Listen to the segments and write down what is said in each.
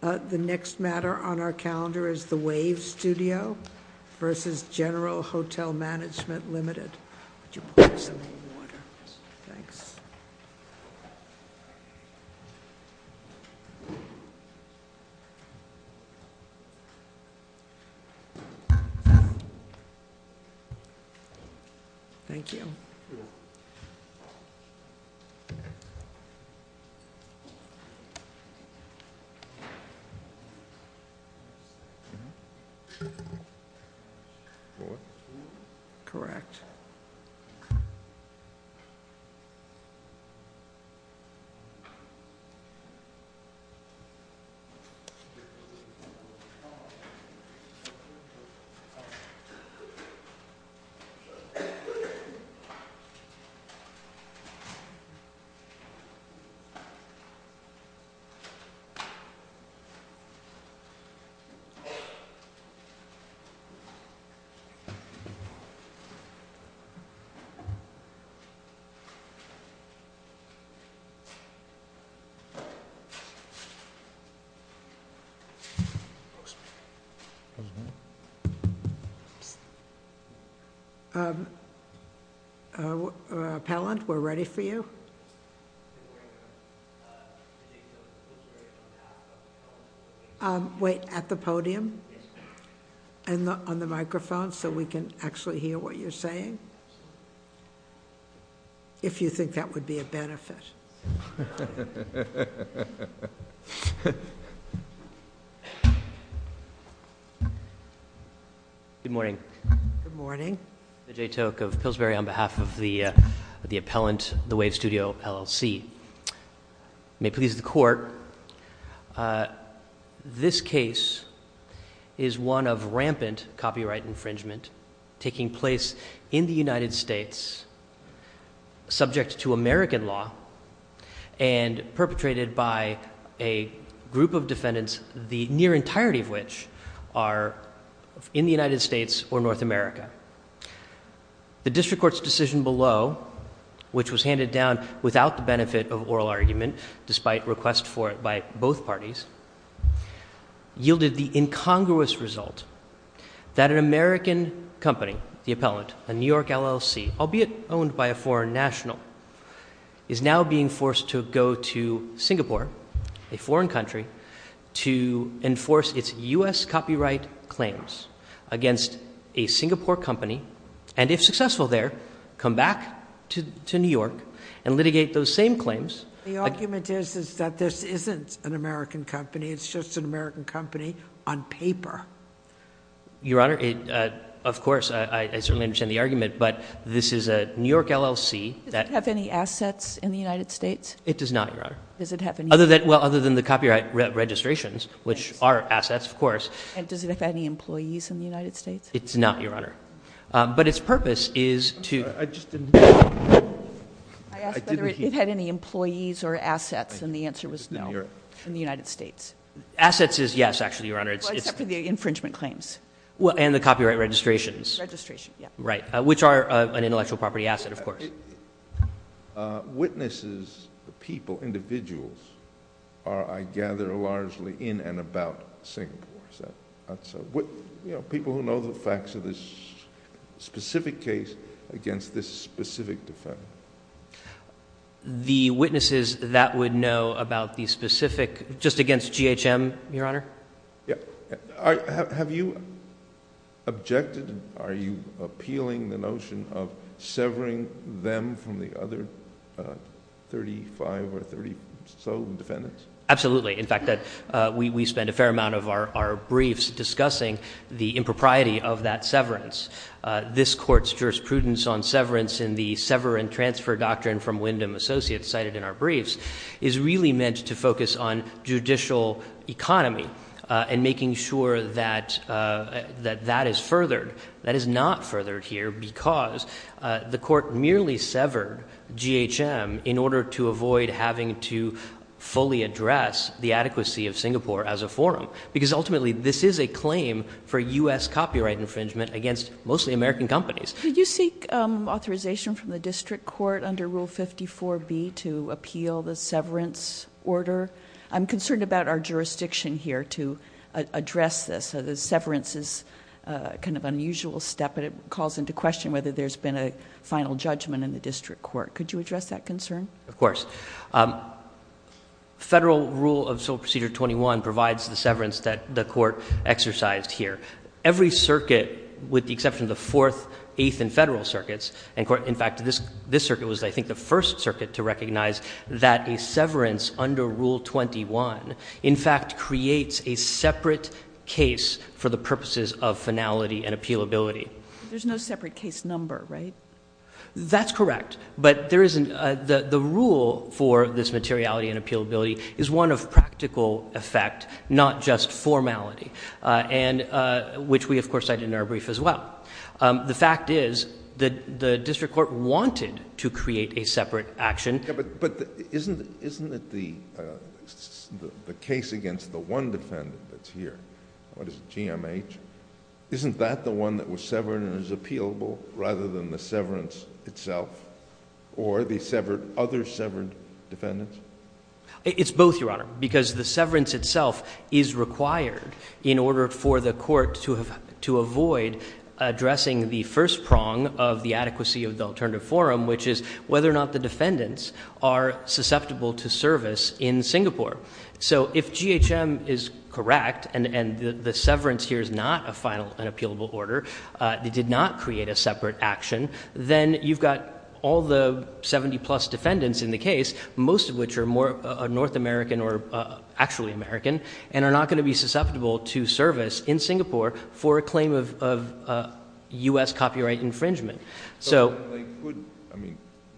The next matter on our calendar is the Wave Studio versus General Hotel Management Limited. Would you put this in the order, thanks. Thank you. Mm hmm. Sure. Correct. Correct. Mhm. Mhm. Mhm. Mhm. Yeah. Okay. Mhm, mhm, Speaking? Uh, Pallant. We're ready for you. Uh, wait at the podium and on the microphone so we can actually hear what you're saying. If you think that would be a benefit. Good morning. Good morning. J. Tok of Pillsbury on behalf of the the appellant, the wave studio LLC may please the court. Uh, this case is one of rampant copyright infringement taking place in the United States, subject to American law and perpetrated by a group of defendants, the near entirety of which are in the United States or North America. The district court's decision below, which was handed down without the yielded the incongruous result that an American company, the appellant, a New York LLC, albeit owned by a foreign national, is now being forced to go to Singapore, a foreign country to enforce its U. S. Copyright claims against a Singapore company. And if successful there, come back to New York and litigate those same claims. The argument is, is that this isn't an American company. It's just an American company on paper. Your Honor, of course, I certainly understand the argument, but this is a New York LLC that have any assets in the United States. It does not. Your honor, does it happen? Other than well, other than the copyright registrations, which are assets, of course, and does it have any employees in the United States? It's not your honor. But its purpose is to I just didn't I asked whether it had any employees or assets. And the answer was no. In the United States. Assets is yes. Actually, your honor, it's for the infringement claims. Well, and the copyright registrations registration, right? Which are an intellectual property asset. Of course, witnesses, people, individuals are, I gather, largely in and about Singapore. So what people who know the facts of this specific case against this specific defendant, the witnesses that would know about the specific just against G. H. M. Your honor. Yeah. Have you objected? Are you appealing the notion of severing them from the other 35 or 30? So defendants? Absolutely. In fact, that we spend a fair amount of our briefs discussing the impropriety of that severance. This court's prudence on severance in the sever and transfer doctrine from Wyndham Associates cited in our briefs is really meant to focus on judicial economy and making sure that that that is furthered. That is not furthered here because the court merely severed G. H. M. In order to avoid having to fully address the adequacy of Singapore as a forum. Because ultimately, this is a claim for U. S. Copyright infringement against mostly American companies. Did you seek authorization from the district court under Rule 54 B to appeal the severance order? I'm concerned about our jurisdiction here to address this. So the severance is kind of unusual step, but it calls into question whether there's been a final judgment in the district court. Could you address that concern? Of course. Um, exercised here. Every circuit, with the exception of the 4th, 8th and federal circuits and court. In fact, this this circuit was, I think, the first circuit to recognize that a severance under Rule 21, in fact, creates a separate case for the purposes of finality and appeal ability. There's no separate case number, right? That's correct. But there isn't. The rule for this materiality and appeal ability is one of practical effect, not just formality on which we, of course, I didn't are brief as well. The fact is that the district court wanted to create a separate action. But isn't isn't that the the case against the one defendant that's here? What is GMH? Isn't that the one that was severed and is appealable rather than the severance itself or the severed other severed defendants? It's both, Your Yourself is required in order for the court to have to avoid addressing the first prong of the adequacy of the alternative forum, which is whether or not the defendants are susceptible to service in Singapore. So if G H M is correct and the severance here is not a final and appealable order, they did not create a separate action. Then you've got all the 70 plus defendants in the case, most of which are North American or actually American and are not going to be susceptible to service in Singapore for a claim of U.S. copyright infringement.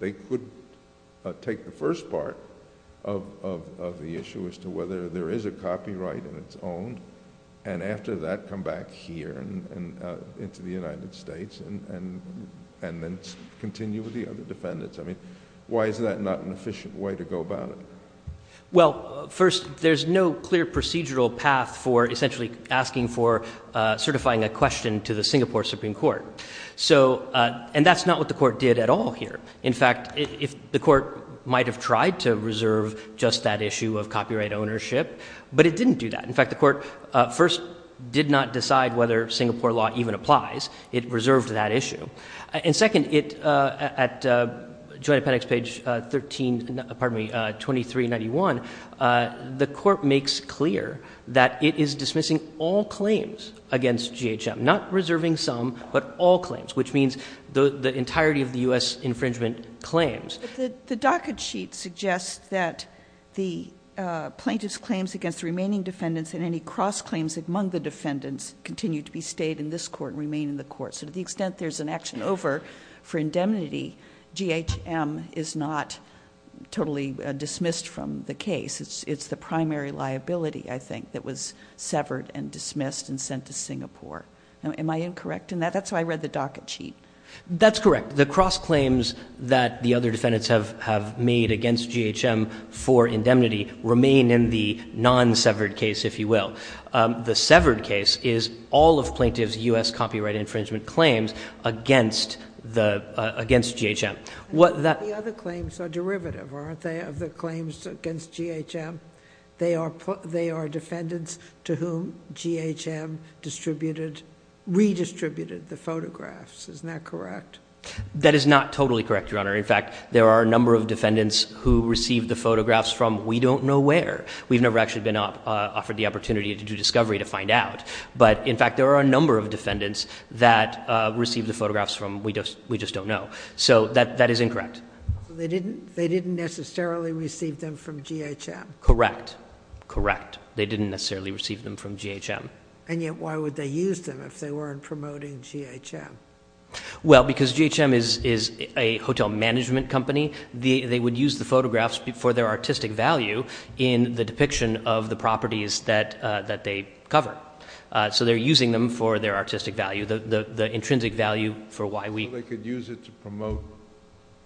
They could take the first part of the issue as to whether there is a copyright in its own and after that come back here and into the United States and continue with the other defendants. I mean, why is that not an efficient way to go about it? Well, first, there's no clear procedural path for essentially asking for certifying a question to the Singapore Supreme Court. So, uh, and that's not what the court did at all here. In fact, if the court might have tried to reserve just that issue of copyright ownership, but it didn't do that. In fact, the court first did not decide whether Singapore law even applies. It did not decide whether it was a copyright infringement or not. So, uh, second, it, uh, at, uh, joint appendix, page 13, pardon me, uh, 2391, uh, the court makes clear that it is dismissing all claims against GHM, not reserving some, but all claims, which means the entirety of the U.S. infringement claims. But the docket sheet suggests that the, uh, plaintiff's claims against the remaining defendants and any cross claims among the defendants continue to be in the U.S. court and remain in the court. So to the extent there's an action over for indemnity, GHM is not totally dismissed from the case. It's, it's the primary liability, I think, that was severed and dismissed and sent to Singapore. Am I incorrect in that? That's why I read the docket sheet. That's correct. The cross claims that the other defendants have, have made against GHM for indemnity remain in the non-severed case, if you will. Um, the plaintiff's U.S. copyright infringement claims against the, uh, against GHM. What the other claims are derivative, aren't they, of the claims against GHM? They are put, they are defendants to whom GHM distributed, redistributed the photographs. Isn't that correct? That is not totally correct, Your Honor. In fact, there are a number of defendants who received the photographs from, we don't know where. We've never actually been, uh, offered the opportunity to do discovery to find out. But in fact, there are a number of defendants that, uh, received the photographs from, we just, we just don't know. So that, that is incorrect. They didn't, they didn't necessarily receive them from GHM. Correct. Correct. They didn't necessarily receive them from GHM. And yet, why would they use them if they weren't promoting GHM? Well, because GHM is, is a hotel management company. The, they would use the photographs for their artistic value in the depiction of the properties that, uh, that they cover. Uh, so they're using them for their artistic value, the, the, the intrinsic value for why we... So they could use it to promote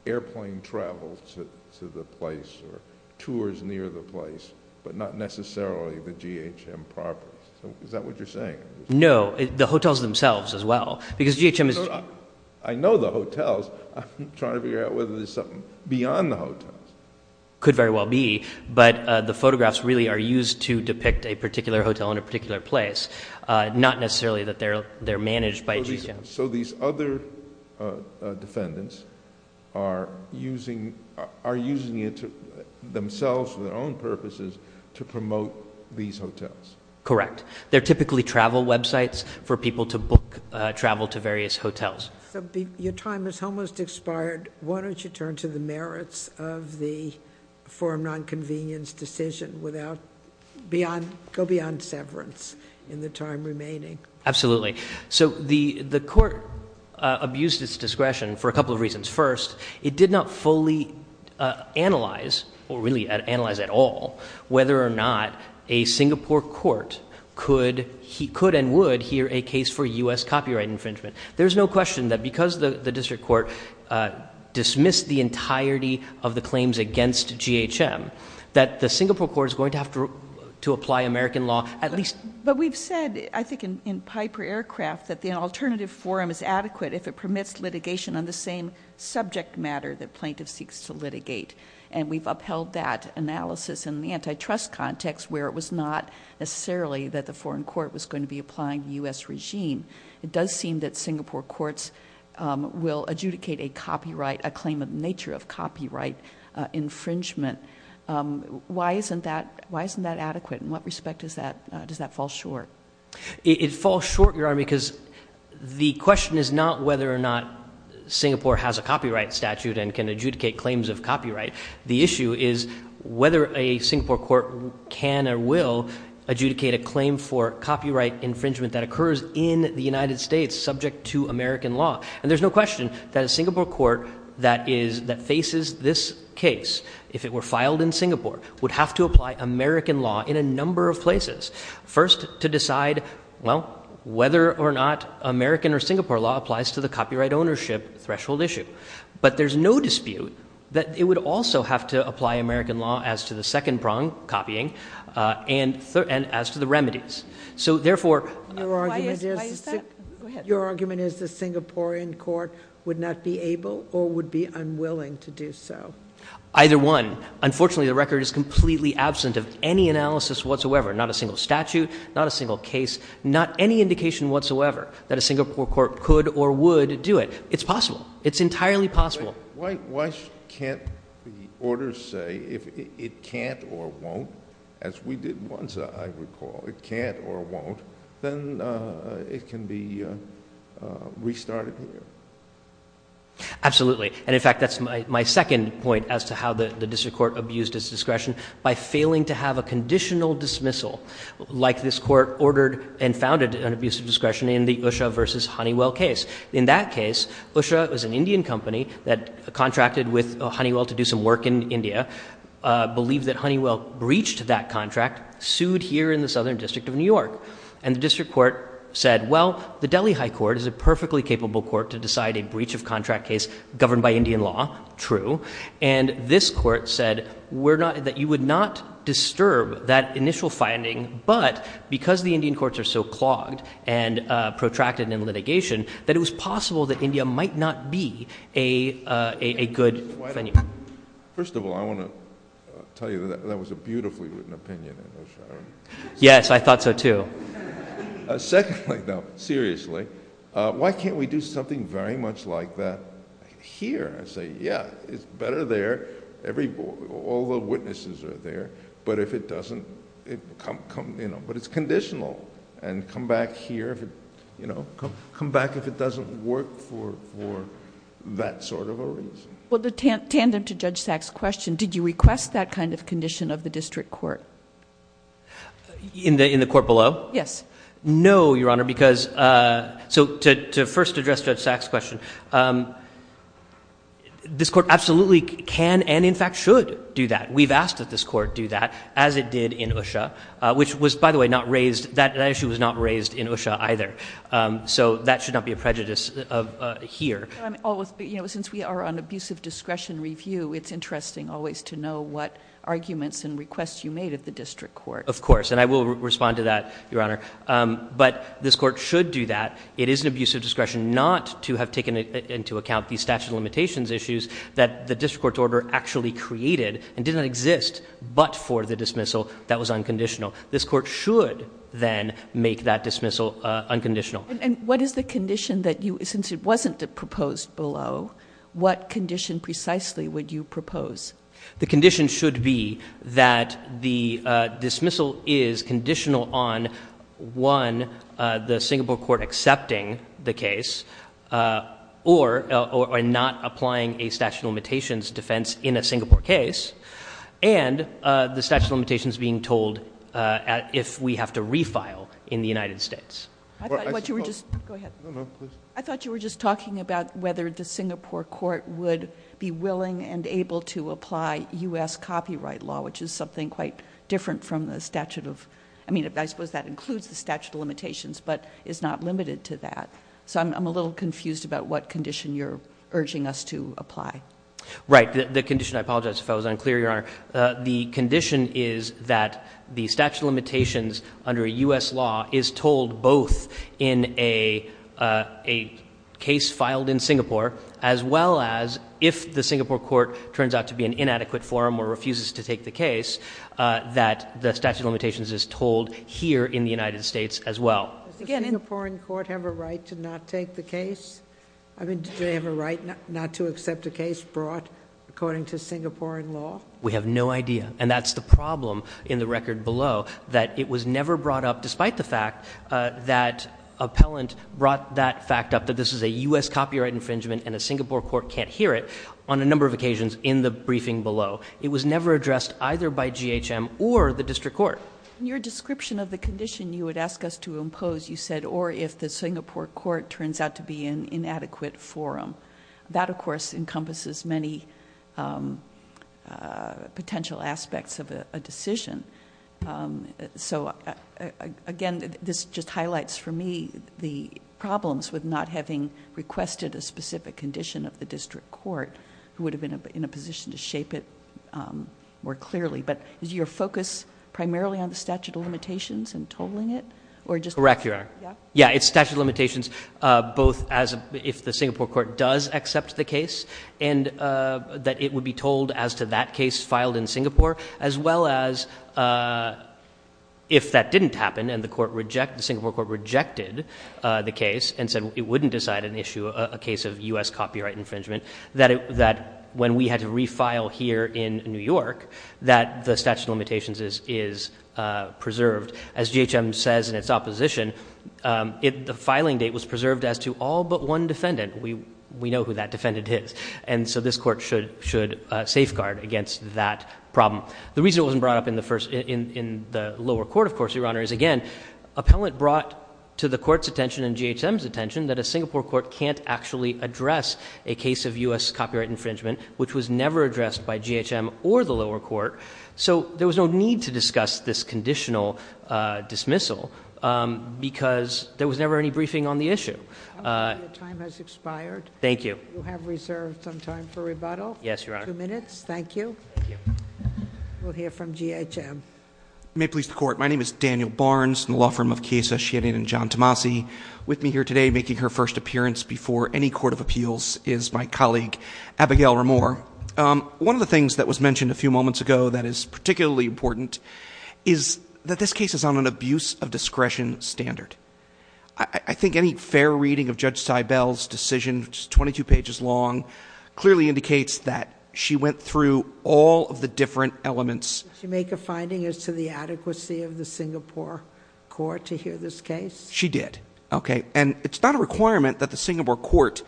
airplane travel to, to the place or tours near the place, but not necessarily the GHM properties. Is that what you're saying? No, the hotels themselves as well, because GHM is... I know the hotels. I'm trying to figure out whether there's something beyond the hotels. Could very well be, but, uh, the photographs really are used to depict a particular hotel in a particular place. Uh, not necessarily that they're, they're managed by GHM. So these other, uh, uh, defendants are using, are using it to themselves for their own purposes to promote these hotels. Correct. They're typically travel websites for people to book, uh, travel to various hotels. So your time has almost expired. Why don't you turn to the merits of the forum non-convenience decision without beyond, go beyond severance in the time remaining? Absolutely. So the, the court, uh, abused its discretion for a couple of reasons. First, it did not fully, uh, analyze or really analyze at all, whether or not a Singapore court could, he could and would hear a case for US copyright infringement. There's no question that because the district court, uh, dismissed the entirety of the claims against GHM, that the Singapore court is going to have to, to apply American law at least. But we've said, I think in, in Piper Aircraft that the alternative forum is adequate if it permits litigation on the same subject matter that plaintiff seeks to litigate. And we've upheld that analysis in the antitrust context where it was not necessarily that the foreign court was going to be applying the US regime. It does seem that Singapore courts, um, will adjudicate a copyright, a claim of nature of copyright infringement. Um, why isn't that, why isn't that adequate? In what respect does that, uh, does that fall short? It falls short, Your Honor, because the question is not whether or not Singapore has a copyright statute and can adjudicate claims of copyright. The issue is whether a Singapore court can or will adjudicate a claim for the United States subject to American law. And there's no question that a Singapore court that is, that faces this case, if it were filed in Singapore, would have to apply American law in a number of places first to decide, well, whether or not American or Singapore law applies to the copyright ownership threshold issue. But there's no dispute that it would also have to apply American law as to the second prong copying, uh, and third, and as to the remedies. So therefore, your argument is, your argument is the Singaporean court would not be able or would be unwilling to do so. Either one. Unfortunately, the record is completely absent of any analysis whatsoever. Not a single statute, not a single case, not any indication whatsoever that a Singapore court could or would do it. It's possible. It's entirely possible. Why, why can't the order say if it can't or won't, as we did once, I recall it can't or won't, then, uh, it can be, uh, uh, restarted. Absolutely. And in fact, that's my, my second point as to how the district court abused his discretion by failing to have a conditional dismissal like this court ordered and founded an abusive discretion in the Usha versus Honeywell case. In that case, Usha was an Indian company that contracted with Honeywell to do some work in India, uh, believe that Honeywell breached that contract sued here in the Southern district of New York and the district court said, well, the Delhi high court is a perfectly capable court to decide a breach of contract case governed by Indian law. True. And this court said we're not that you would not disturb that initial finding, but because the Indian courts are so clogged and, uh, protracted in litigation that it was possible that India might not be a, uh, a, a good venue. First of all, I want to tell you that that was a beautifully written opinion. Yes, I thought so too. Secondly though, seriously, uh, why can't we do something very much like that here? I say, yeah, it's better there. Every boy, all the witnesses are there, but if it doesn't come, come, you know, but it's conditional and come back here, you know, come back if it doesn't work for, for that sort of a reason. Well, the tandem to Judge Sacks question, did you request that kind of condition of the district court? In the, in the court below? Yes. No, Your Honor, because, uh, so to, to first address Judge Sacks question, um, this court absolutely can and in fact should do that. We've asked that this court do that as it did in Usha, uh, which was, by the way, not raised that that issue was not raised in Usha either. Um, so that should not be a prejudice of, uh, here. You know, since we are on abusive discretion review, it's interesting always to know what arguments and requests you made of the district court. Of course. And I will respond to that, Your Honor. Um, but this court should do that. It is an abusive discretion not to have taken into account the statute of limitations issues that the district court order actually created and didn't exist, but for the dismissal that was unconditional. This court should then make that dismissal, uh, unconditional. And what is the condition that you, since it wasn't proposed below, what condition precisely would you propose? The condition should be that the, uh, dismissal is conditional on one, uh, the Singapore court accepting the case, uh, or, uh, or not applying a statute of limitations defense in a Singapore case. And, uh, the statute of limitations being told, uh, if we have to refile in the United States. I thought you were just, go ahead. I thought you were just talking about whether the Singapore court would be able to apply us copyright law, which is something quite different from the statute of, I mean, I suppose that includes the statute of limitations, but it's not limited to that. So I'm a little confused about what condition you're urging us to apply. Right. The condition, I apologize if I was unclear, Your Honor. Uh, the condition is that the statute of limitations under a us law is told both in a, uh, a case filed in Singapore as well as if the Singapore court turns out to be an inadequate forum or refuses to take the case, uh, that the statute of limitations is told here in the United States as well. Does the Singaporean court have a right to not take the case? I mean, did they have a right not to accept a case brought according to Singaporean law? We have no idea. And that's the problem in the record below that it was never brought up despite the fact, uh, that appellant brought that fact up that this is a us copyright infringement and the Singapore court can't hear it on a number of occasions in the briefing below. It was never addressed either by GHM or the district court. In your description of the condition you would ask us to impose, you said, or if the Singapore court turns out to be an inadequate forum, that of course encompasses many, um, uh, potential aspects of a decision. Um, so, uh, again, this just highlights for me the problems with not having requested a specific condition of the district court who would have been in a position to shape it, um, more clearly. But is your focus primarily on the statute of limitations and totaling it or just correct? Yeah. Yeah. It's statute of limitations, uh, both as a, if the Singapore court does accept the case and, uh, that it would be told as to that case filed in Singapore, as well as, uh, if that didn't happen and the court reject, the Singapore court rejected the case and said it wouldn't decide an issue, a case of us copyright infringement that, that when we had to refile here in New York, that the statute of limitations is, is, uh, preserved as GHM says in its opposition. Um, it, the filing date was preserved as to all but one defendant. We, we know who that defendant is. And so this court should, should safeguard against that problem. The reason it wasn't brought up in the first in, in the lower court, of course, your honor is again, appellate brought to the court's attention and GHM's attention that a Singapore court can't actually address a case of us copyright infringement, which was never addressed by GHM or the lower court. So there was no need to discuss this conditional, uh, dismissal, um, because there was never any briefing on the issue. Uh, time has expired. Thank you. You have reserved some time for rebuttal. Yes, your honor. Two minutes. Thank you. We'll hear from GHM. May please the court. My name is Daniel Barnes and the law firm of case associated and John Tomasi with me here today, making her first appearance before any court of appeals is my colleague, Abigail or more. Um, one of the things that was mentioned a few moments ago that is particularly important is that this case is on an abuse of discretion standard. I think any fair reading of judge side, Bell's decision, just 22 pages long clearly indicates that she went through all of the different elements. You make a finding as to the adequacy of the Singapore court to hear this case. She did. Okay. And it's not a requirement that the Singapore court,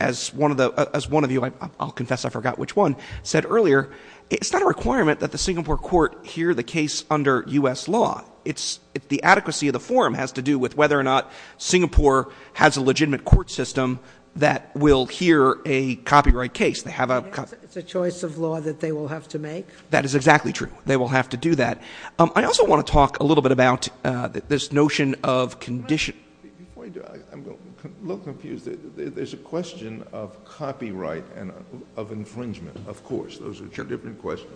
as one of the, as one of you, I'll confess, I forgot which one said earlier, it's not a requirement that the Singapore court here, the case under us law, it's the adequacy of the forum has to do with whether or not Singapore has a legitimate court system that will hear a copyright case. They have a choice of law that they will have to make. That is exactly true. They will have to do that. Um, I also want to talk a little bit about, uh, this notion of condition. I'm a little confused. There's a question of copyright and of infringement. Of course, those are two different questions.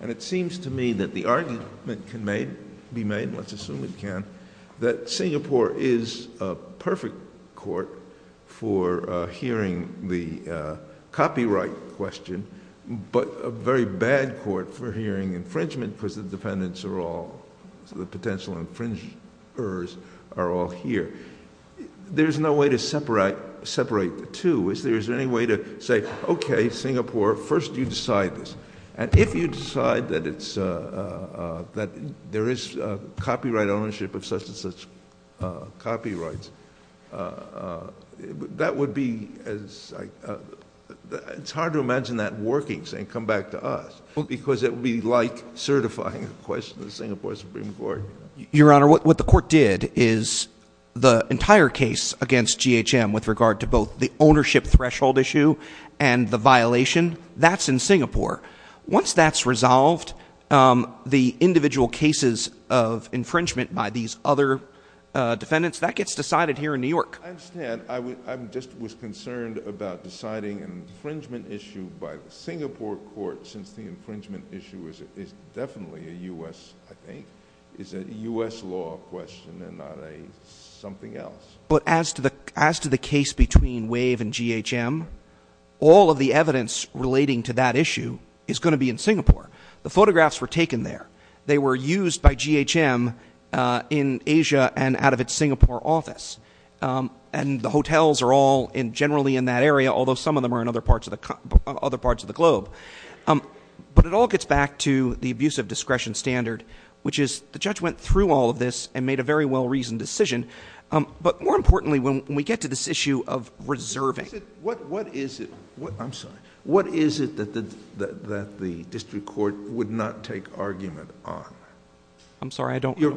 And it seems to me that the argument can be made, let's assume it can, that Singapore is a perfect court for hearing the copyright question, but a very bad court for hearing infringement because the defendants are all, so the potential infringers are all here. There's no way to separate, separate the two. Is there, is there any way to say, okay, Singapore, first you decide this. And if you decide that it's a, uh, uh, that there is a copyright ownership of such and such, uh, copyrights, uh, uh, that would be as I, uh, it's hard to imagine that working saying, come back to us. Well, because it would be like certifying a question to the Singapore Supreme Court. Your Honor, what the court did is the entire case against GHM with regard to both the ownership threshold issue and the violation that's in Singapore. Once that's resolved, um, the individual cases of infringement by these other, uh, defendants that gets decided here in New York. I understand. I would, I'm just was concerned about deciding an infringement issue by the Singapore court since the infringement issue is, is definitely a U S I think is a U S law question and not a something else. But as to the, as to the case between wave and GHM, all of the evidence relating to that issue is going to be in Singapore. The photographs were taken there. They were used by GHM, uh, in Asia and out of its Singapore office. Um, and the hotels are all in generally in that area, although some of them are in other parts of the other parts of the globe. Um, but it all gets back to the abuse of discretion standard, which is the judge went through all of this and made a very well reasoned decision. Um, but more importantly, when we get to this issue of reserving, what, what is it, what I'm sorry, what is it that the, that the district court would not take argument on? I'm sorry, I don't, your,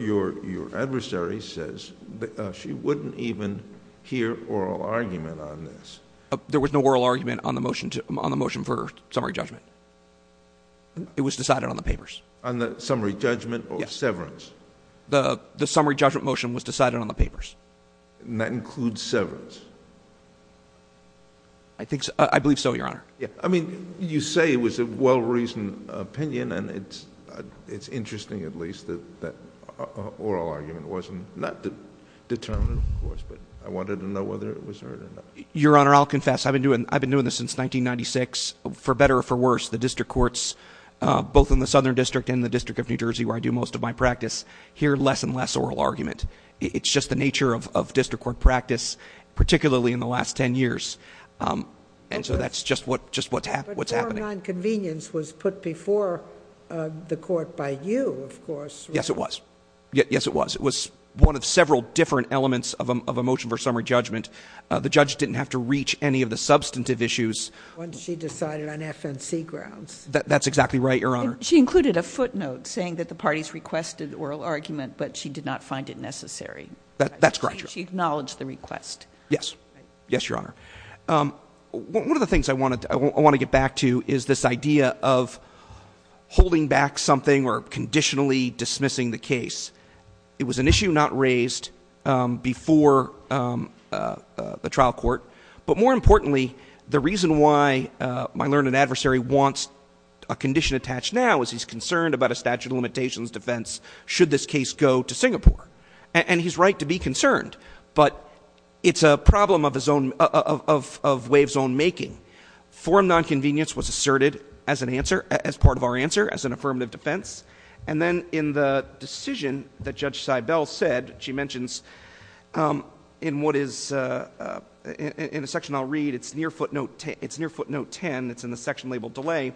your, your adversary says that she wouldn't even hear oral argument on this. There was no oral argument on the motion to, on the motion for summary judgment. It was decided on the papers, on the summary judgment or severance. The summary judgment motion was decided on the papers. And that includes severance. I think so. I believe so. Your honor. Yeah. I mean, you say it was a well reasoned opinion and it's, uh, it's interesting at least that that oral argument wasn't not determined, of course, but I wanted to know whether it was heard or not. Your honor, I'll confess. I've been doing, I've been doing this since 1996, for better or for worse, the district courts, uh, both in the Southern district and the district of New Jersey, where I do most of my practice here, less and less oral argument. It's just the nature of, of district court practice, particularly in the last 10 years. Um, and so that's just what, just what's happened. What's happening. Nonconvenience was put before the court by you, of course. Yes, it was. Yes, it was. It was one of several different elements of a motion for summary judgment. Uh, the judge didn't have to reach any of the substantive issues when she decided on FNC grounds. That's exactly right. Your honor. She included a footnote saying that the parties requested oral argument, but she did not find it necessary. That's correct. She acknowledged the request. Yes. Yes. Your honor. Um, one of the things I want to, I want to get back to is this idea of holding back something or conditionally dismissing the case. It was an issue not raised, um, before, um, uh, uh, the trial court, but more importantly, the reason why, uh, my learned adversary wants a condition attached now is he's concerned about a statute of limitations defense. Should this case go to Singapore? And he's right to be concerned, but it's a problem of his own, of, of wave zone making forum. Nonconvenience was asserted as an answer as part of our answer as an affirmative defense. And then in the decision that judge side bell said, she mentions, um, in what is, uh, uh, in a section I'll read, it's near footnote 10. It's near footnote 10. It's in the section labeled delay.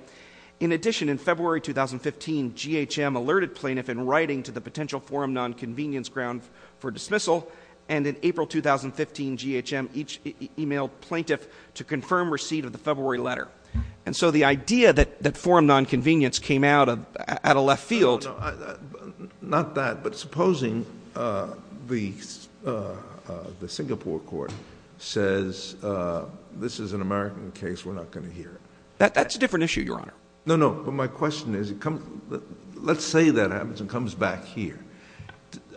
In addition, in February, 2015, GHM alerted plaintiff in writing to the potential forum, nonconvenience ground for dismissal. And in April, 2015 GHM, each email plaintiff to confirm receipt of the February letter. And so the idea that that forum nonconvenience came out of at a left field, not that, but supposing, uh, the, uh, uh, the Singapore court says, uh, this is an American case. We're not going to hear that. That's a different issue, your honor. No, no. But my question is, let's say that happens and comes back here.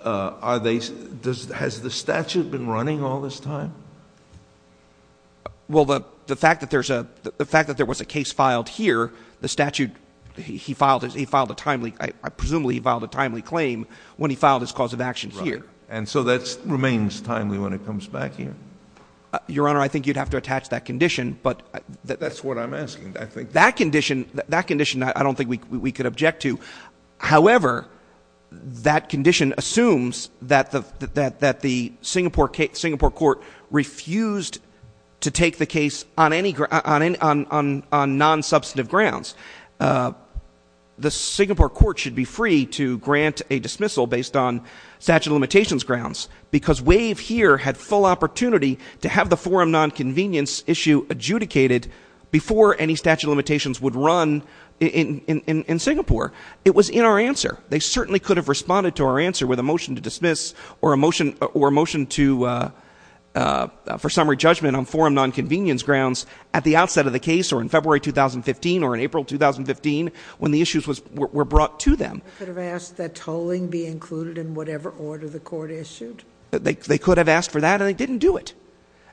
Uh, are they, does, has the statute been running all this time? Well, the fact that there's a, the fact that there was a case filed here, the statute he filed as he filed a timely, I presumably filed a timely claim when he filed his cause of action here. And so that's remains timely when it comes back here. Your honor, I think you'd have to attach that condition, but that's what I'm asking. I think that condition, that condition, I don't think we could object to. However, that condition assumes that the, that, that the Singapore case, Singapore court refused to take the case on any grant on, on, on, on non-substantive grounds. Uh, the Singapore court should be free to grant a dismissal based on statute of limitations grounds because wave here had full opportunity to have the forum non-convenience issue adjudicated before any statute of limitations would run in, in, in, in Singapore. It was in our answer. They certainly could have responded to our answer with a motion to dismiss or a motion or motion to, uh, uh, for summary judgment on forum, non-convenience grounds at the outset of the case or in February, 2015, or in April, 2015, when the issues was, were, were brought to them. Could have asked that tolling be included in whatever order the court issued. They could have asked for that and they didn't do it.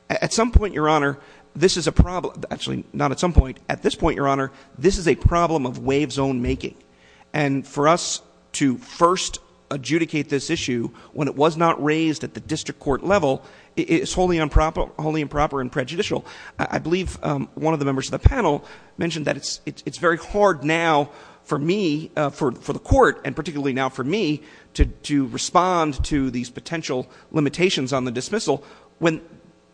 At some point, your honor, this is a problem, actually not at some point at this point, your honor, this is a problem of wave zone making. And for us to first adjudicate this issue when it was not raised at the district court level is wholly improper, wholly improper and prejudicial. I believe one of the members of the panel mentioned that it's, it's, it's very hard now for me, uh, for, for the court. And particularly now for me to, to respond to these potential limitations on the dismissal when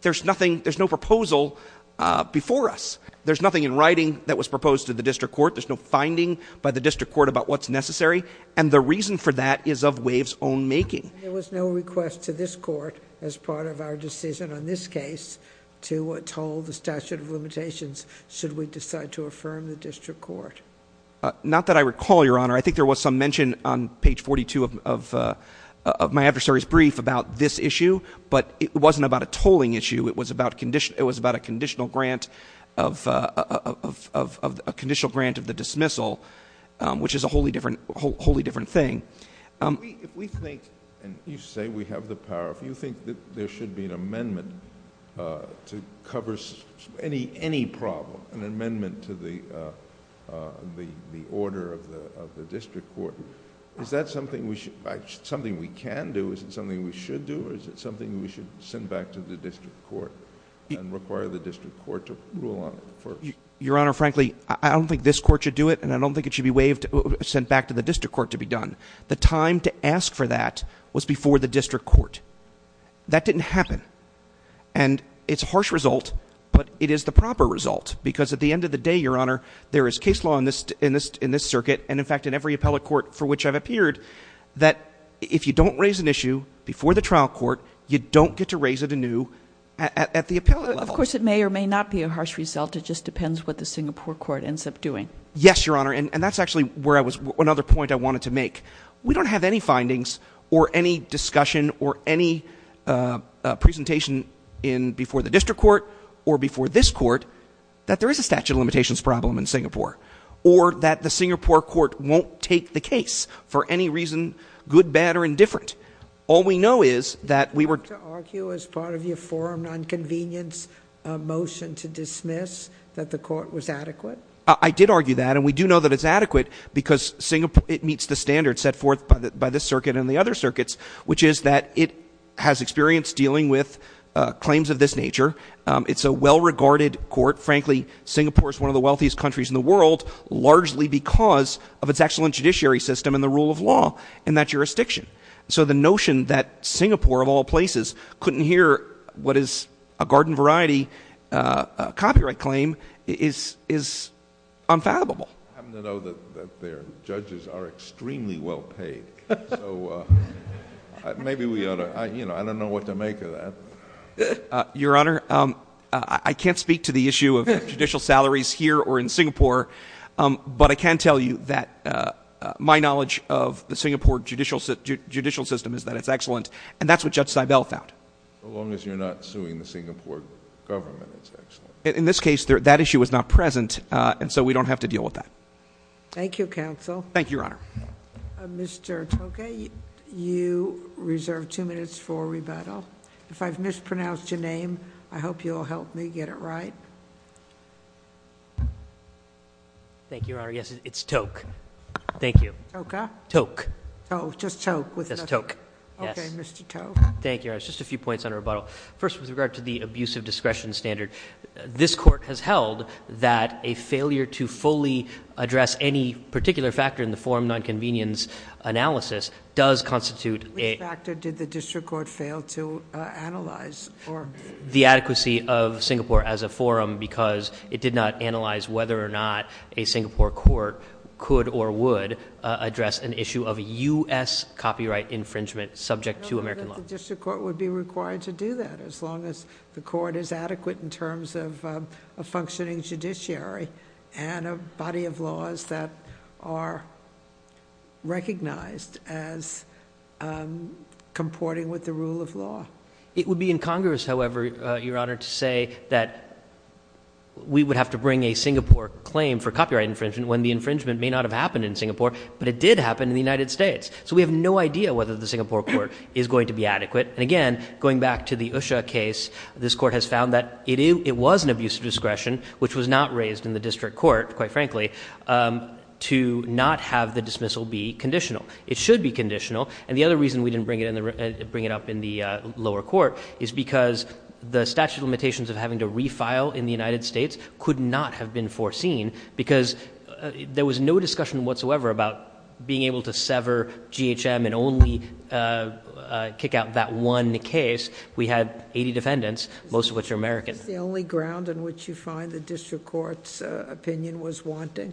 there's nothing, there's no proposal, uh, before us, there's nothing in writing that was proposed to the district court. There's no finding by the district court about what's necessary. And the reason for that is of waves own making. There was no request to this court as part of our decision on this case to what told the statute of limitations. Should we decide to affirm the district court? Uh, not that I recall, your honor. I think there was some mention on page 42 of, of, uh, of my adversary's brief about this issue, but it wasn't about a tolling issue. It was about condition. It was about a conditional grant of, uh, of, of, of, of a conditional grant of the dismissal, um, which is a wholly different, wholly different thing. Um, if we think, and you say we have the power, if you think that there should be an amendment, uh, to cover any, any problem, an amendment to the, uh, uh, the, the order of the, of the district court, is that something we should, something we can do? Is it something we should do? Or is it something we should send back to the district court and require the district court to rule on it? Your honor, frankly, I don't think this court should do it. And I don't think it should be waived or sent back to the district court to be done. The time to ask for that was before the district court. That didn't happen. And it's harsh result, but it is the proper result because at the end of the day, your honor, there is case law in this, in this, in this circuit. And in fact, in every appellate court for which I've appeared that if you don't raise an issue before the trial court, you don't get to raise it anew at the appellate. Of course it may or may not be a harsh result. It just depends what the Singapore court ends up doing. Yes, your honor. And that's actually where I was. Another point I wanted to make, we don't have any findings or any discussion or any, uh, presentation in before the district court or before this court that there is a statute of limitations problem in Singapore or that the Singapore court won't take the case for any reason, good, bad, or indifferent. All we know is that we were to argue as part of your forum, non-convenience motion to dismiss that the court was adequate. I did argue that. And we do know that it's adequate because Singapore, it meets the standard set forth by the, by this circuit and the other circuits, which is that it has experienced dealing with claims of this nature. It's a well-regarded court. Frankly Singapore is one of the wealthiest countries in the world, largely because of its excellent judiciary system and the rule of law in that jurisdiction. So the notion that Singapore of all places couldn't hear what is a garden variety, uh, uh, copyright claim is, is unfathomable. I'm going to know that their judges are extremely well paid. So maybe we ought to, I, you know, I don't know what to make of that. Uh, your honor. Um, I can't speak to the issue of judicial salaries here or in Singapore. Um, but I can tell you that, uh, uh, my knowledge of the Singapore judicial judicial system is that it's excellent. And that's what judge Cybele found. So long as you're not suing the Singapore government, it's actually in this case, that issue is not present. Uh, and so we don't have to deal with that. Thank you. Council. Thank you, your honor. Mr. Tokay, you reserved two minutes for rebuttal. If I've mispronounced your name, I hope you'll help me get it right. Thank you, your honor. Yes, it's toke. Thank you. Okay. Toke. Oh, just toke. Okay. Mr. Tokay. Thank you. I was just a few points on rebuttal. First with regard to the abusive discretion standard, this court has held that a failure to fully address any particular factor in the forum, nonconvenience analysis does constitute a factor. Did the district court fail to analyze or the adequacy of Singapore as a forum because it did not analyze whether or not a Singapore court could or would address an issue of a U S copyright infringement subject to American law? District court would be required to do that as long as the court is adequate in terms of a functioning judiciary and a body of laws that are recognized as comporting with the rule of law. It would be in Congress. However, uh, your honor to say that we would have to bring a Singapore claim for copyright infringement when the infringement may not have happened in Singapore, but it did happen in the United States. So we have no idea whether the Singapore court is going to be adequate. And again, going back to the Usha case, this court has found that it is, it was an abusive discretion, which was not raised in the district court, quite frankly, um, to not have the dismissal be conditional. It should be conditional. And the other reason we didn't bring it in and bring it up in the lower court is because the statute of limitations of having to refile in the United States could not have been foreseen because there was no discussion whatsoever about being able to sever GHM and only, uh, uh, kick out that one case. We had 80 defendants, most of which are American. The only ground in which you find the district court's opinion was wanting.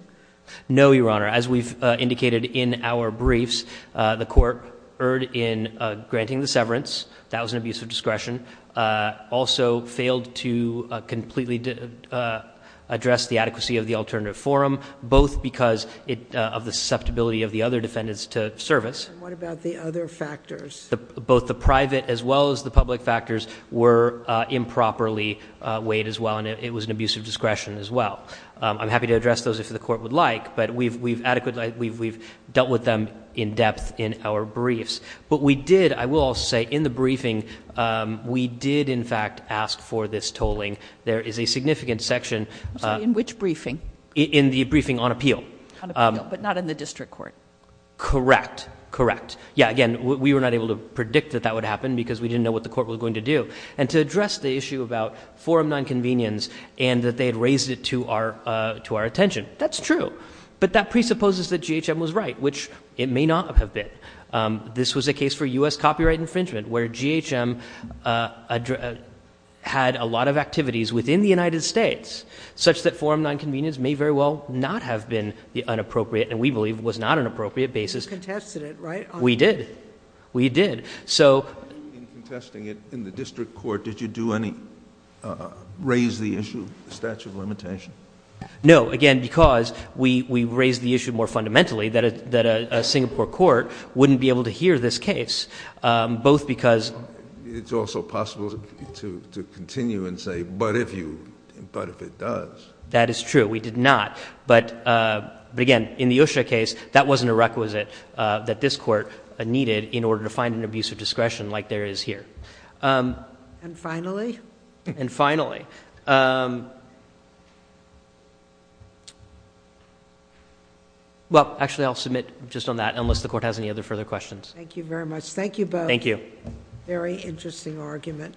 No, your honor, as we've indicated in our briefs, uh, the court erred in granting the severance. That was an abusive discretion. Uh, also failed to, uh, completely, uh, address the adequacy of the alternative forum, both because it of the susceptibility of the other defendants to service. What about the other factors? Both the private as well as the public factors were, uh, improperly, uh, weighed as well. And it was an abusive discretion as well. Um, I'm happy to address those if the court would like, but we've, we've adequate, like we've, we've dealt with them in depth in our briefs, but we did, I will say in the briefing, um, we did in fact ask for this tolling. There is a significant section in which briefing in the briefing on appeal, but not in the district court. Correct. Correct. Yeah. Again, we were not able to predict that that would happen because we didn't know what the court was going to do and to address the issue about forum nonconvenience and that they had raised it to our, uh, to our attention. That's true. But that presupposes that GHM was right, which it may not have been. Um, this was a case for us copyright infringement where GHM, uh, uh, had a lot of activities within the United States such that forum nonconvenience may very well not have been the inappropriate. And we believe it was not an appropriate basis. We did. We did. So in contesting it in the district court, did you do any, uh, raise the issue of the statute of limitation? No. Again, because we, we raised the issue more fundamentally that, uh, Singapore court wouldn't be able to hear this case. Um, both because it's also possible to, to continue and say, but if you, but if it does, that is true, we did not. But, uh, but again, in the OSHA case, that wasn't a requisite, uh, that this court needed in order to find an abuse of discretion like there is here. Um, and finally, and finally, um, yeah. Well, actually I'll submit just on that unless the court has any other further questions. Thank you very much. Thank you. Thank you. Very interesting argument.